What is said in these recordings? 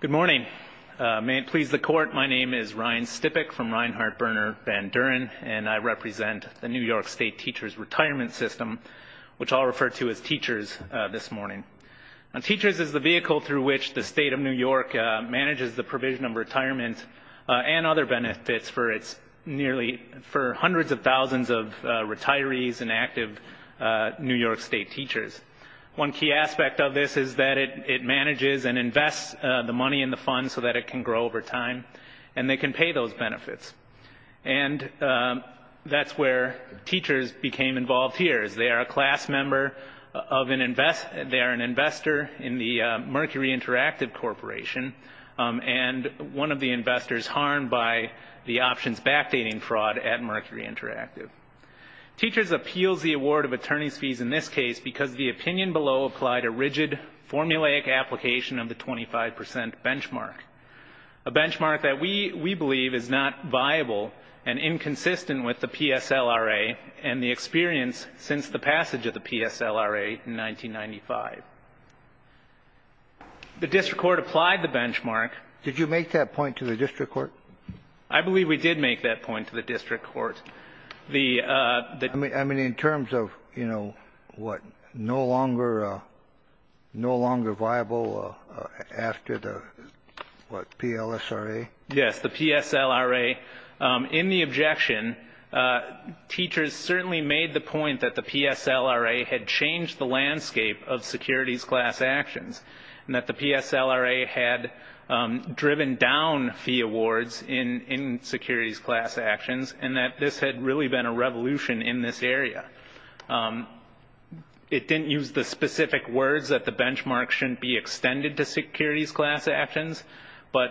Good morning. May it please the Court, my name is Ryan Stipek from Reinhart-Berner-Vanduren, and I represent the New York State Teachers' Retirement System, which I'll refer to as Teachers this morning. Teachers is the vehicle through which the State of New York manages the provision of retirement and other benefits for its nearly for hundreds of thousands of retirees and active New York State teachers. One key aspect of this is that it manages and invests the money in the fund so that it can grow over time, and they can pay those benefits. And that's where teachers became involved here, is they are a class member of an invest, they are an investor in the Mercury Interactive Corporation, and one of the investors harmed by the options backdating fraud at Mercury Interactive. Teachers appeals the award of attorney's fees in this case because the opinion below applied a rigid formulaic application of the 25 percent benchmark, a benchmark that we believe is not viable and inconsistent with the PSLRA and the experience since the passage of the PSLRA in 1995. The district court applied the benchmark. Did you make that point to the district court? I believe we did make that point to the district court. I mean, in terms of, you know, what, no longer viable after the what, PLSRA? Yes, the PSLRA. In the objection, teachers certainly made the point that the PSLRA had changed the landscape of securities class actions, and that the PSLRA had driven down fee awards in securities class actions, and that this had really been a revolution in this area. It didn't use the specific words that the benchmark shouldn't be extended to securities class actions, but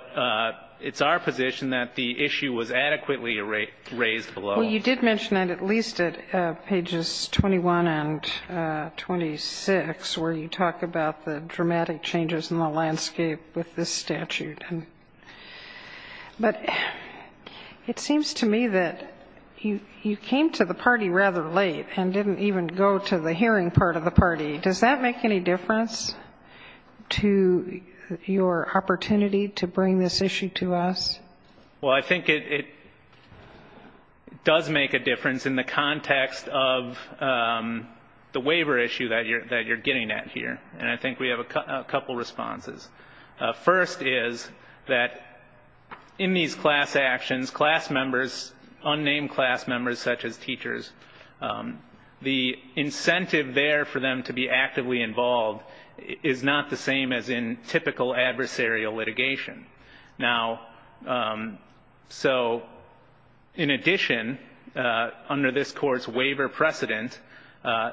it's our position that the issue was adequately raised below. Well, you did mention that at least at pages 21 and 26, where you talk about the dramatic changes in the landscape with this statute. But it seems to me that you came to the party rather late and didn't even go to the hearing part of the party. Does that make any difference to your opportunity to bring this issue to us? Well, I think it does make a difference in the First is that in these class actions, class members, unnamed class members such as teachers, the incentive there for them to be actively involved is not the same as in typical adversarial litigation. Now, so in addition, under this court's waiver precedent,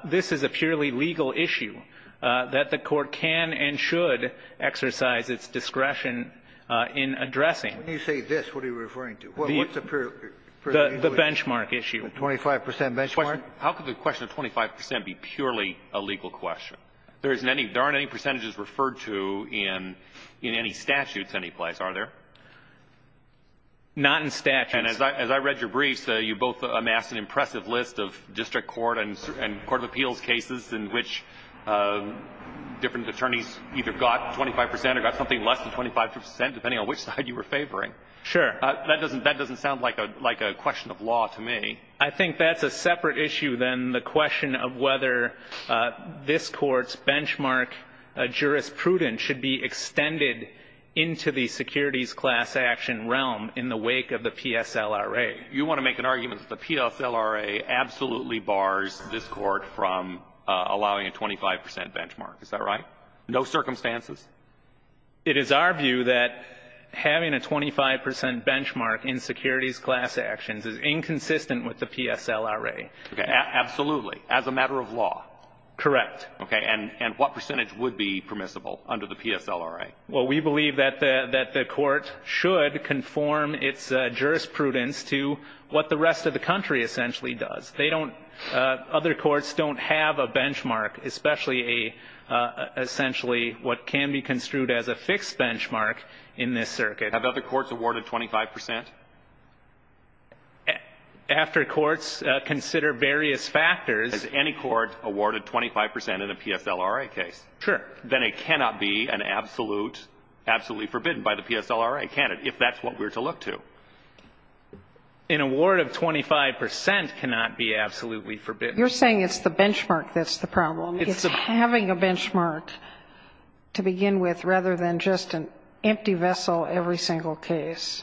this is a purely legal issue that the Court can and should exercise its discretion in addressing. When you say this, what are you referring to? The benchmark issue. The 25 percent benchmark? How could the question of 25 percent be purely a legal question? There aren't any percentages referred to in any statutes anyplace, are there? Not in statutes. And as I read your briefs, you both amassed an impressive list of district court and district attorneys, which different attorneys either got 25 percent or got something less than 25 percent, depending on which side you were favoring. Sure. That doesn't that doesn't sound like a like a question of law to me. I think that's a separate issue than the question of whether this Court's benchmark jurisprudence should be extended into the securities class action realm in the wake of the PSLRA. You want to make an argument that the PSLRA absolutely bars this Court from allowing a 25 percent benchmark. Is that right? No circumstances? It is our view that having a 25 percent benchmark in securities class actions is inconsistent with the PSLRA. Okay. Absolutely. As a matter of law. Correct. Okay. And what percentage would be permissible under the PSLRA? Well, we believe that the that the Court should conform its jurisprudence to what the rest of the country essentially does. They don't other courts don't have a benchmark, especially a essentially what can be construed as a fixed benchmark in this circuit. Have other courts awarded 25 percent? After courts consider various factors. Has any court awarded 25 percent in a PSLRA case? Sure. Then it cannot be an absolute, absolutely forbidden by the PSLRA, can it, if that's what we're to look to. An award of 25 percent cannot be absolutely forbidden. You're saying it's the benchmark that's the problem. It's having a benchmark to begin with, rather than just an empty vessel every single case.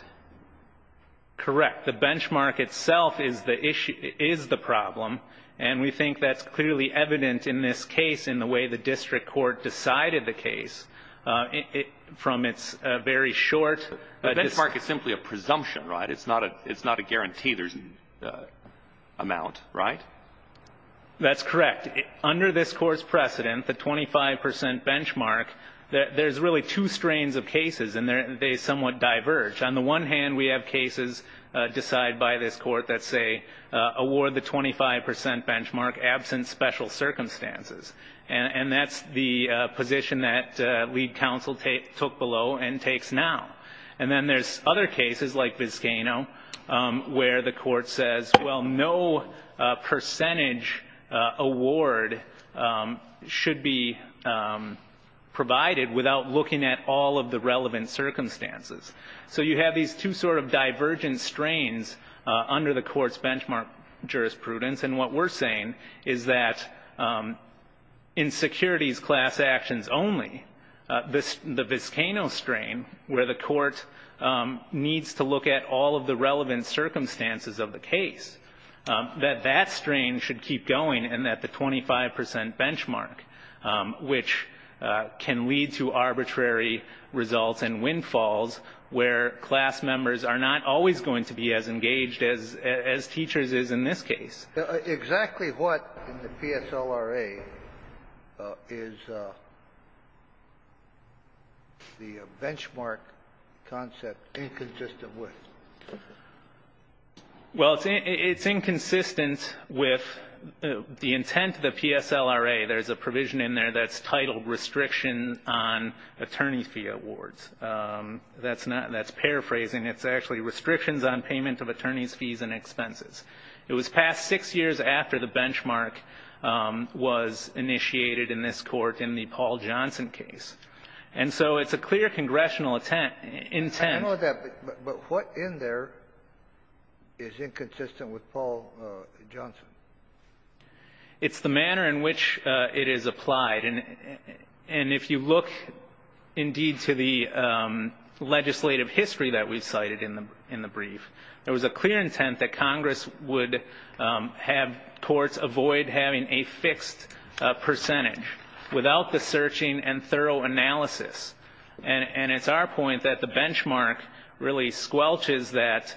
Correct. The benchmark itself is the issue, is the problem. And we think that's evident in this case in the way the district court decided the case. From its very short. The benchmark is simply a presumption, right? It's not a guarantee there's an amount, right? That's correct. Under this Court's precedent, the 25 percent benchmark, there's really two strains of cases, and they somewhat diverge. On the one hand, we have cases decided by this Court that say, award the 25 percent benchmark absent special circumstances. And that's the position that lead counsel took below and takes now. And then there's other cases like Vizcano, where the Court says, well, no percentage award should be provided without looking at all of the relevant circumstances. So you have these two sort of divergent strains under the Court's benchmark jurisprudence. And what we're saying is that in securities class actions only, the Vizcano strain, where the Court needs to look at all of the relevant circumstances of the case, that that strain should keep going, and that the 25 percent benchmark, which can lead to arbitrary results and windfalls where class members are not always going to be as engaged as teachers is in this case. Exactly what in the PSLRA is the benchmark concept inconsistent with? Well, it's inconsistent with the intent of the PSLRA. There's a provision in there that's titled restriction on attorney fee awards. That's paraphrasing. It's actually restrictions on payment of attorney's fees and expenses. It was passed six years after the benchmark was initiated in this Court in the Paul Johnson case. And so it's a clear congressional intent. But what in there is inconsistent with Paul Johnson? It's the manner in which it is applied. And if you look indeed to the legislative history that we cited in the brief, there was a clear intent that Congress would have courts avoid having a fixed percentage without the searching and thorough analysis. And it's our point that the benchmark really squelches that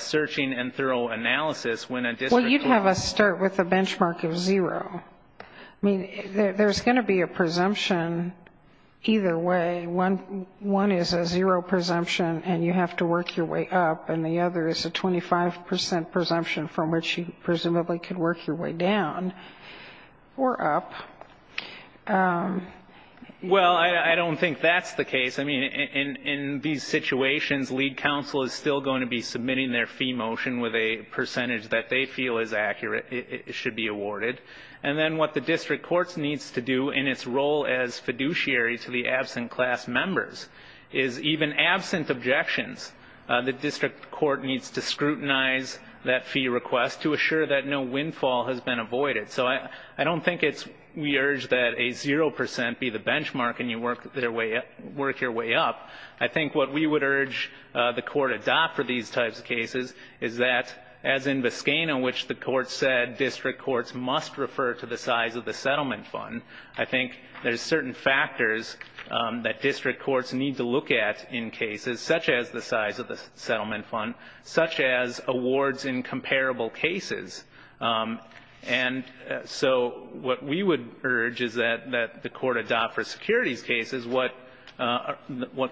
searching and thorough analysis. Well, you'd have us start with a benchmark of zero. I mean, there's going to be a presumption either way. One is a zero presumption, and you have to work your way up. And the other is a 25 percent presumption from which you presumably could work your way down or up. Well, I don't think that's the case. I mean, in these situations, lead counsel is still going to be submitting their fee motion with a percentage that they feel is accurate, it should be awarded. And then what the district court needs to do in its role as fiduciary to the absent class members is even absent objections, the district court needs to scrutinize that fee request to assure that no windfall has been avoided. So I don't think we urge that a zero percent be the benchmark and you work your way up. I think what we would urge the court adopt for these types of cases is that, as in Biscayne, in which the court said district courts must refer to the size of the settlement fund, I think there's certain factors that district courts need to look at in cases, such as the size of the settlement fund, such as awards in comparable cases. And so what we would urge is that the court adopt for securities cases what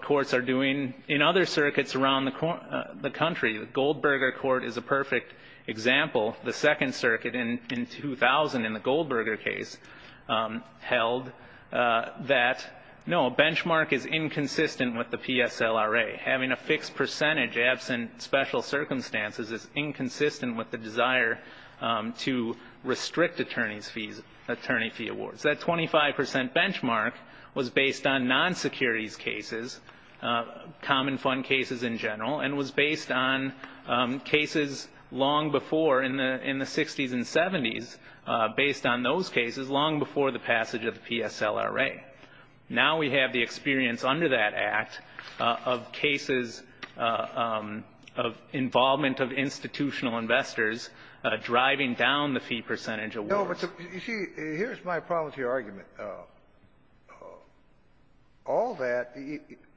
courts are doing in other circuits around the country. The Goldberger Court is a perfect example. The Second Circuit in 2000 in the Goldberger case held that, no, a benchmark is inconsistent with the PSLRA. Having a fixed percentage absent special circumstances is inconsistent with the desire to restrict attorney fee awards. That 25 percent benchmark was based on non-securities cases, common fund cases in general, and was based on cases long before in the 60s and 70s, based on those cases long before the passage of the PSLRA. Now we have the experience under that Act of cases of involvement of institutional investors driving down the fee percentage of awards. You see, here's my problem with your argument. All that,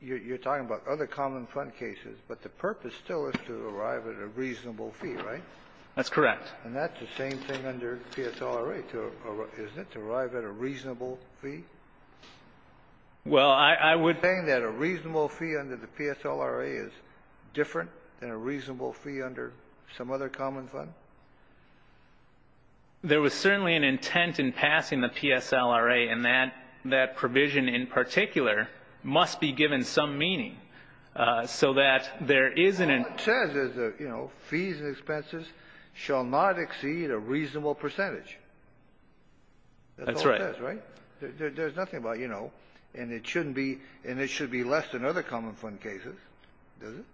you're talking about other common fund cases, but the purpose still is to arrive at a reasonable fee, right? That's correct. And that's the same thing under PSLRA, isn't it, to arrive at a reasonable fee? Well, I would ---- You're saying that a reasonable fee under the PSLRA is different than a reasonable fee under some other common fund? There was certainly an intent in passing the PSLRA, and that provision in particular must be given some meaning so that there is an ---- All it says is, you know, fees and expenses shall not exceed a reasonable percentage. That's right. There's nothing about, you know, and it shouldn't be ---- and it should be less than other common fund cases, does it?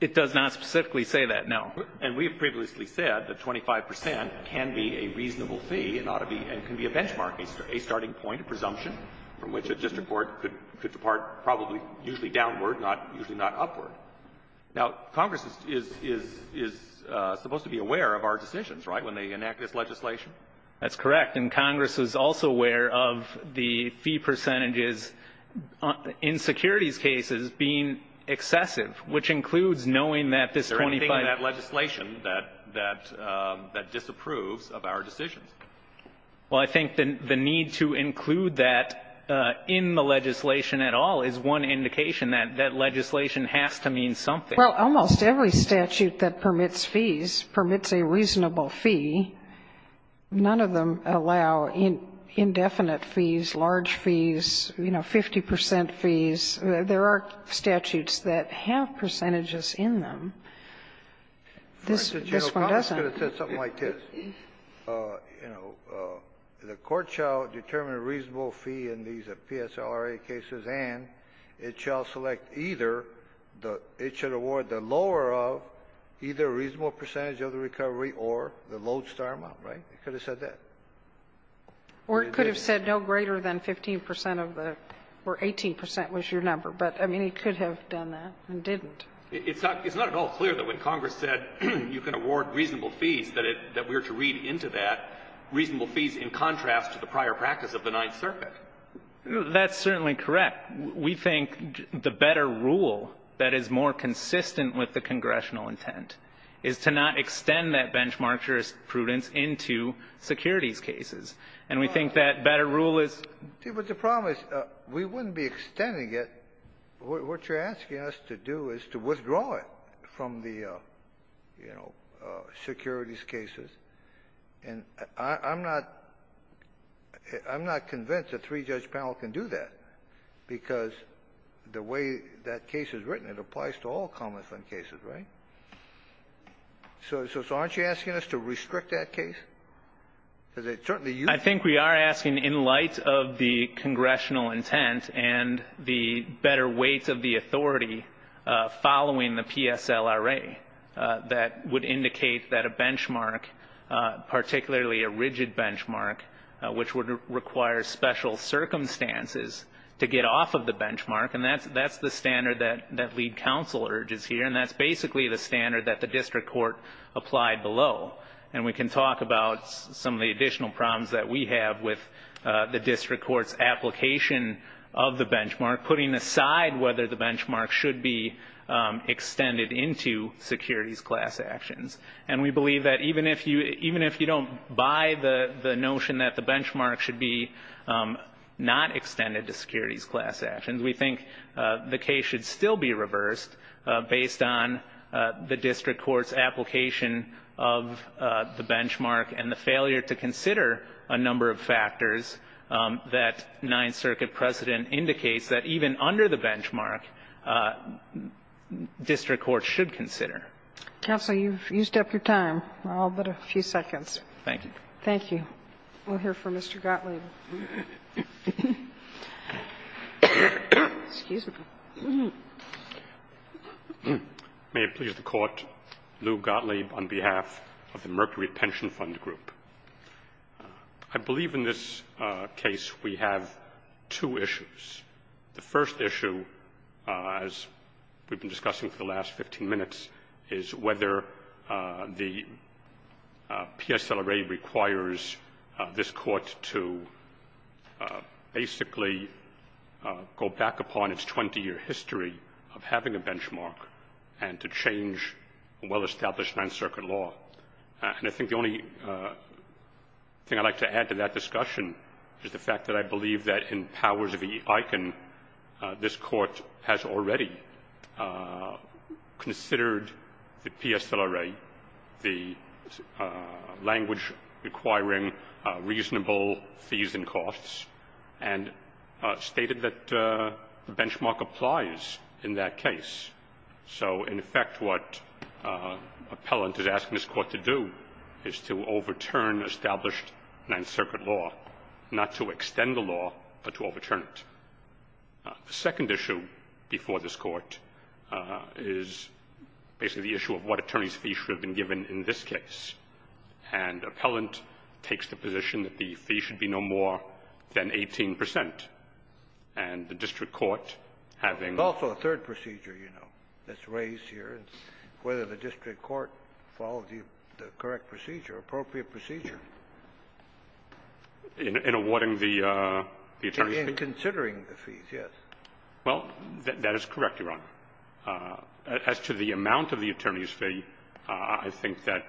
It does not specifically say that, no. And we've previously said that 25 percent can be a reasonable fee and ought to be ---- and can be a benchmark, a starting point, a presumption from which a district court could depart probably usually downward, not usually not upward. Now, Congress is supposed to be aware of our decisions, right, when they enact this legislation? That's correct. And Congress is also aware of the fee percentages in securities cases being excessive, which includes knowing that this 25 ---- Is there anything in that legislation that disapproves of our decisions? Well, I think the need to include that in the legislation at all is one indication that that legislation has to mean something. Well, almost every statute that permits fees permits a reasonable fee. None of them allow indefinite fees, large fees, you know, 50 percent fees. There are statutes that have percentages in them. This one doesn't. The General Codd should have said something like this, you know, the court shall determine a reasonable fee in these PSRA cases and it shall select either the ---- The General Codd should award the lower of either a reasonable percentage of the recovery or the lodestar amount, right? It could have said that. Or it could have said no greater than 15 percent of the ---- or 18 percent was your number, but, I mean, it could have done that and didn't. It's not at all clear that when Congress said you can award reasonable fees, that we are to read into that reasonable fees in contrast to the prior practice of the Ninth Circuit. That's certainly correct. We think the better rule that is more consistent with the congressional intent is to not extend that benchmark jurisprudence into securities cases. And we think that better rule is ---- But the problem is we wouldn't be extending it. What you're asking us to do is to withdraw it from the, you know, securities cases. And I'm not ---- I'm not convinced a three-judge panel can do that, because the way that case is written, it applies to all common-fund cases, right? So aren't you asking us to restrict that case? Because it certainly ---- I think we are asking in light of the congressional intent and the better weight of the authority following the PSLRA, that would indicate that a benchmark, particularly a rigid benchmark, which would require special circumstances to get off of the benchmark, and that's the standard that lead counsel urges here. And that's basically the standard that the district court applied below. And we can talk about some of the additional problems that we have with the benchmark. And we believe that even if you don't buy the notion that the benchmark should be not extended to securities class actions, we think the case should still be reversed based on the district court's application of the benchmark and the failure to consider a number of factors that Ninth Circuit precedent indicates that even under the benchmark, district courts should consider. Counsel, you've used up your time. We're all but a few seconds. Thank you. Thank you. We'll hear from Mr. Gottlieb. May it please the Court, Lew Gottlieb on behalf of the Mercury Pension Fund Group. I believe in this case we have two issues. The first issue, as we've been discussing for the last 15 minutes, is whether the PSLRA requires this court to basically go back upon its 20-year history of having a benchmark and to change a well-established Ninth Circuit law. And I think the only thing I'd like to add to that discussion is the fact that I believe that in powers of the ICANN, this court has already considered the PSLRA, the language requiring reasonable fees and costs, and stated that the benchmark applies in that case. So in effect, what an appellant is asking this court to do is to overturn established Ninth Circuit law, not to extend the law, but to overturn it. The second issue before this Court is basically the issue of what attorney's fee should have been given in this case. And the appellant takes the position that the fee should be no more than 18 percent. And the district court, having also the third procedure, you know, that's raised here, whether the district court follows the correct procedure, appropriate procedure. In awarding the attorney's fee? In considering the fees, yes. Well, that is correct, Your Honor. As to the amount of the attorney's fee, I think that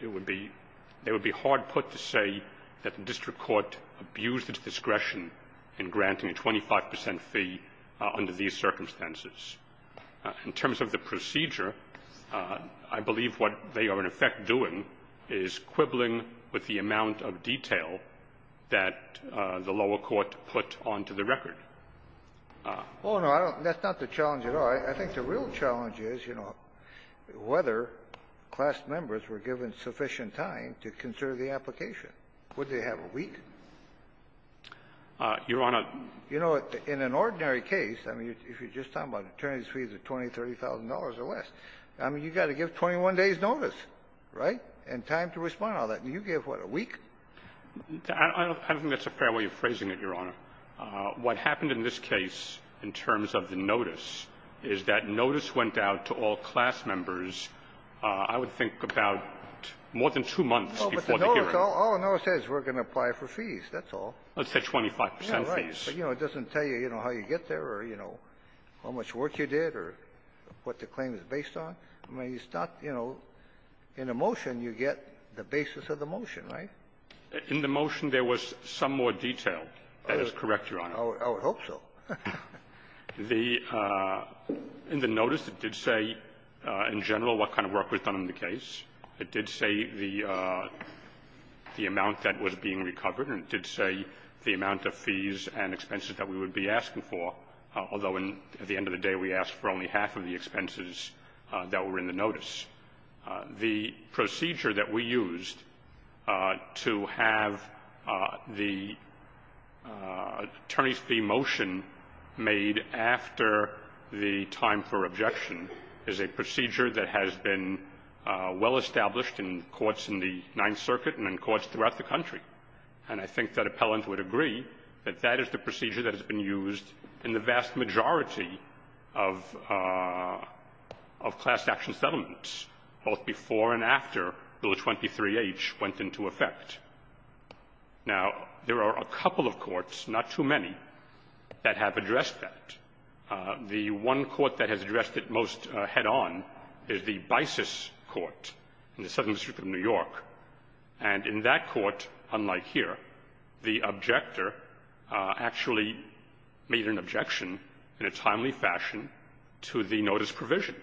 it would be hard put to say that the district court abused its discretion in granting a 25 percent fee under these circumstances. In terms of the procedure, I believe what they are, in effect, doing is quibbling with the amount of detail that the lower court put onto the record. Oh, no, I don't – that's not the challenge at all. I think the real challenge is, you know, whether class members were given sufficient time to consider the application. Would they have a week? Your Honor. You know, in an ordinary case, I mean, if you're just talking about attorney's fees of $20,000, $30,000 or less, I mean, you've got to give 21 days' notice, right, and time to respond to all that. And you give, what, a week? I don't think that's a fair way of phrasing it, Your Honor. What happened in this case in terms of the notice is that notice went out to all class members, I would think, about more than two months before the hearing. All the notice says is we're going to apply for fees. That's all. Let's say 25 percent fees. Right. But, you know, it doesn't tell you, you know, how you get there or, you know, how much work you did or what the claim is based on. I mean, it's not, you know, in a motion, you get the basis of the motion, right? In the motion, there was some more detail. That is correct, Your Honor. I would hope so. The – in the notice, it did say in general what kind of work was done in the case. It did say the amount that was being recovered, and it did say the amount of fees and expenses that we would be asking for, although at the end of the day, we asked for only half of the expenses that were in the notice. The procedure that we used to have the attorneys' fee motion made after the time for objection is a procedure that has been well established in courts in the Ninth Circuit and in courts throughout the country. And I think that appellant would agree that that is the procedure that has been used in the vast majority of class action settlements, both before and after Bill 23H went into effect. Now, there are a couple of courts, not too many, that have addressed that. The one court that has addressed it most head-on is the Bisis Court in the Southern District, where, unlike here, the objector actually made an objection in a timely fashion to the notice provision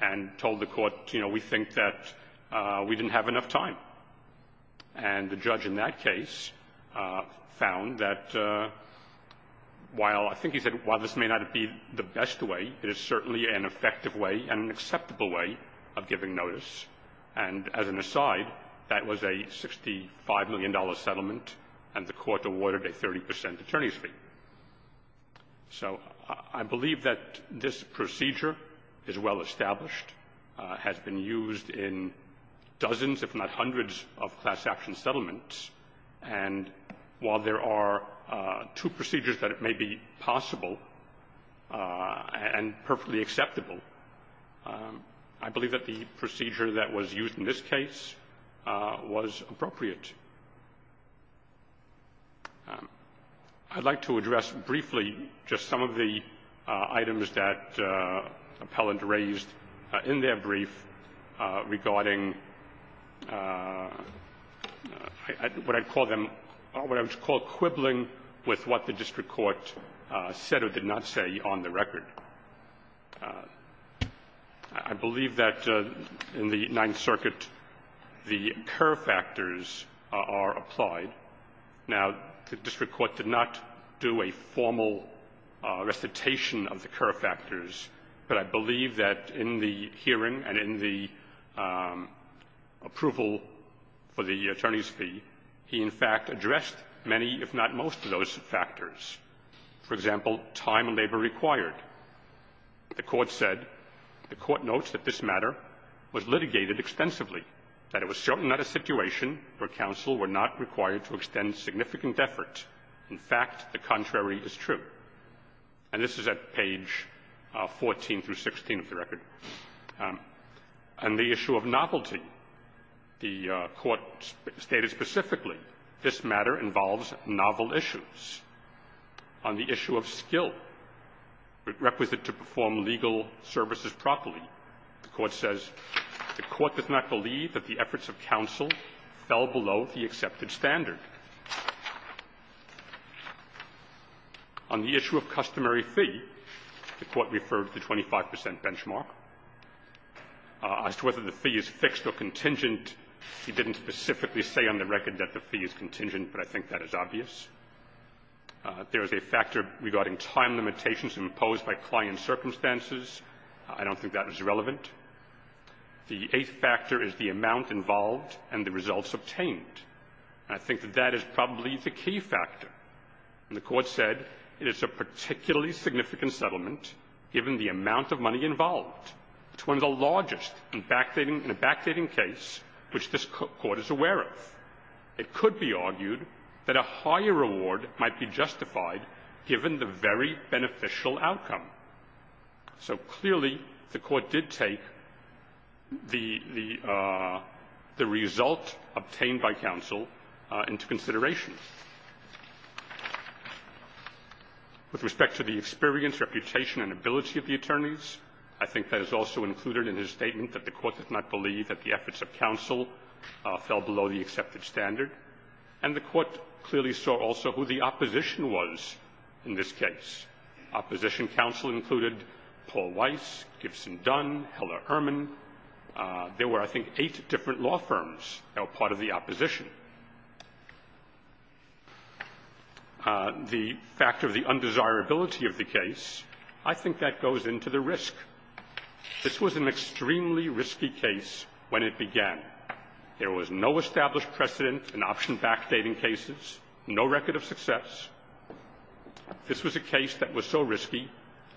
and told the court, you know, we think that we didn't have enough time. And the judge in that case found that while – I think he said while this may not be the best way, it is certainly an effective way and an acceptable way of giving notice. And as an aside, that was a $65 million settlement, and the court awarded a 30 percent attorney's fee. So I believe that this procedure is well established, has been used in dozens, if not hundreds, of class action settlements. And while there are two procedures that it may be possible and perfectly acceptable, I believe that the procedure that was used in this case was appropriate. I'd like to address briefly just some of the items that Appellant raised in their brief regarding what I'd call them – what I would call quibbling with what the district court said or did not say on the record. I believe that in the Ninth Circuit the curve factors are applied. Now, the district court did not do a formal recitation of the curve factors, but I believe that in the hearing and in the approval for the attorney's fee, he, in fact, addressed many, if not most, of those factors. For example, time and labor required. The Court said, the Court notes that this matter was litigated extensively, that it was certainly not a situation where counsel were not required to extend significant effort. In fact, the contrary is true. And this is at page 14 through 16 of the record. And the issue of novelty. The Court stated specifically this matter involves novel issues. On the issue of skill, requisite to perform legal services properly, the Court says the Court does not believe that the efforts of counsel fell below the accepted standard. On the issue of customary fee, the Court referred to the 25 percent benchmark. As to whether the fee is fixed or contingent, he didn't specifically say on the record that the fee is contingent, but I think that is obvious. There is a factor regarding time limitations imposed by client circumstances. I don't think that is relevant. The eighth factor is the amount involved and the results obtained. And I think that that is probably the key factor. And the Court said it is a particularly significant settlement given the amount of money involved. It's one of the largest in a backdating case which this Court is aware of. It could be argued that a higher reward might be justified given the very beneficial outcome. So clearly, the Court did take the result obtained by counsel into consideration. With respect to the experience, reputation, and ability of the attorneys, I think that is also included in his statement that the Court does not believe that the efforts of counsel fell below the accepted standard. And the Court clearly saw also who the opposition was in this case. Opposition counsel included Paul Weiss, Gibson Dunn, Heller Erman. There were, I think, eight different law firms that were part of the opposition. The fact of the undesirability of the case, I think that goes into the risk. This was an extremely risky case when it began. There was no established precedent in option backdating cases, no record of success. This was a case that was so risky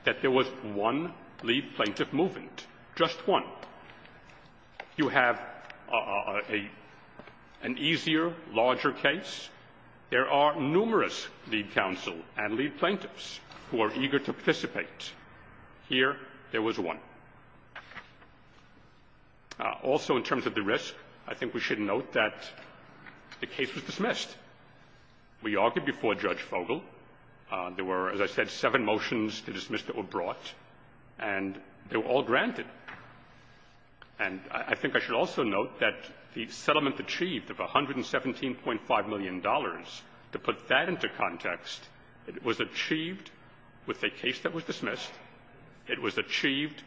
that there was one lead plaintiff movement, just one. You have an easier, larger case. There are numerous lead counsel and lead plaintiffs who are eager to participate. Here, there was one. Also, in terms of the risk, I think we should note that the case was dismissed. We argued before Judge Fogel. There were, as I said, seven motions to dismiss that were brought, and they were all granted. And I think I should also note that the settlement achieved of $117.5 million, to put that into context, was achieved with a case that was dismissed. It was achieved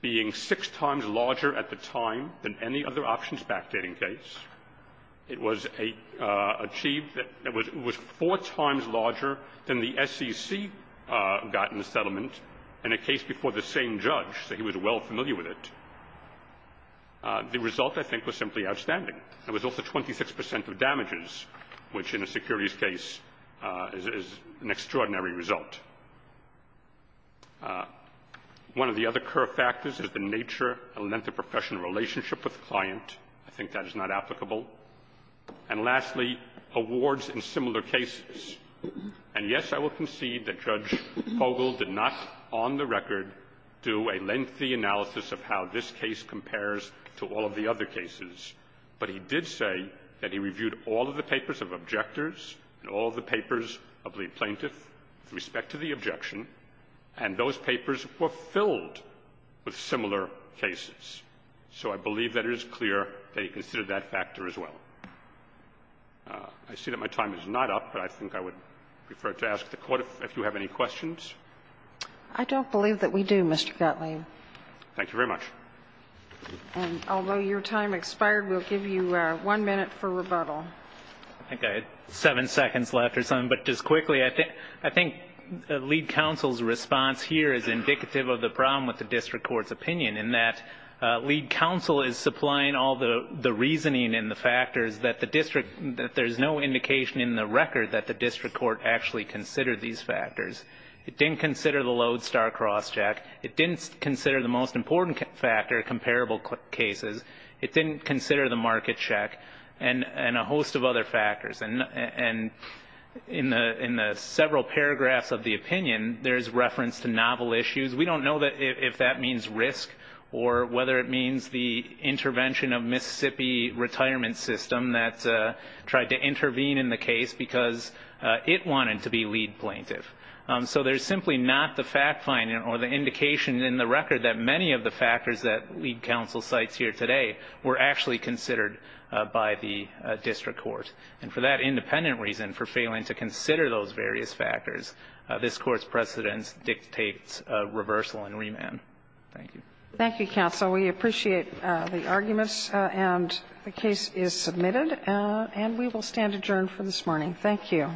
being six times larger at the time than any other options backdating case. It was achieved that it was four times larger than the SEC got in the settlement in a case before the same judge, so he was well familiar with it. The result, I think, was simply outstanding. There was also 26 percent of damages, which in a securities case is an extraordinary result. One of the other core factors is the nature and length of professional relationship with client. I think that is not applicable. And lastly, awards in similar cases. And yes, I will concede that Judge Fogel did not on the record do a lengthy analysis of how this case compares to all of the other cases, but he did say that he reviewed all of the papers of objectors and all of the papers of the plaintiff with respect to the objection, and those papers were filled with similar cases. So I believe that it is clear that he considered that factor as well. I see that my time is not up, but I think I would prefer to ask the Court if you have any questions. I don't believe that we do, Mr. Gottlieb. Thank you very much. And although your time expired, we'll give you one minute for rebuttal. I think I had seven seconds left or something, but just quickly, I think the lead counsel's response here is indicative of the problem with the district court's opinion in that lead counsel is supplying all the reasoning and the factors that the district – that there's no indication in the record that the district court actually considered these factors. It didn't consider the Lode-Starr crosscheck. It didn't consider the most important factor, comparable cases. It didn't consider the market check and a host of other factors. And in the several paragraphs of the opinion, there's reference to novel issues. We don't know if that means risk or whether it means the intervention of Mississippi Retirement System that tried to intervene in the case because it wanted to be lead plaintiff. So there's simply not the fact finding or the indication in the record that many of the factors that lead counsel cites here today were actually considered by the district court. And for that independent reason, for failing to consider those various factors, this court's precedence dictates reversal and remand. Thank you. Thank you, counsel. We appreciate the arguments, and the case is submitted, and we will stand adjourned for this morning. Thank you. All rise.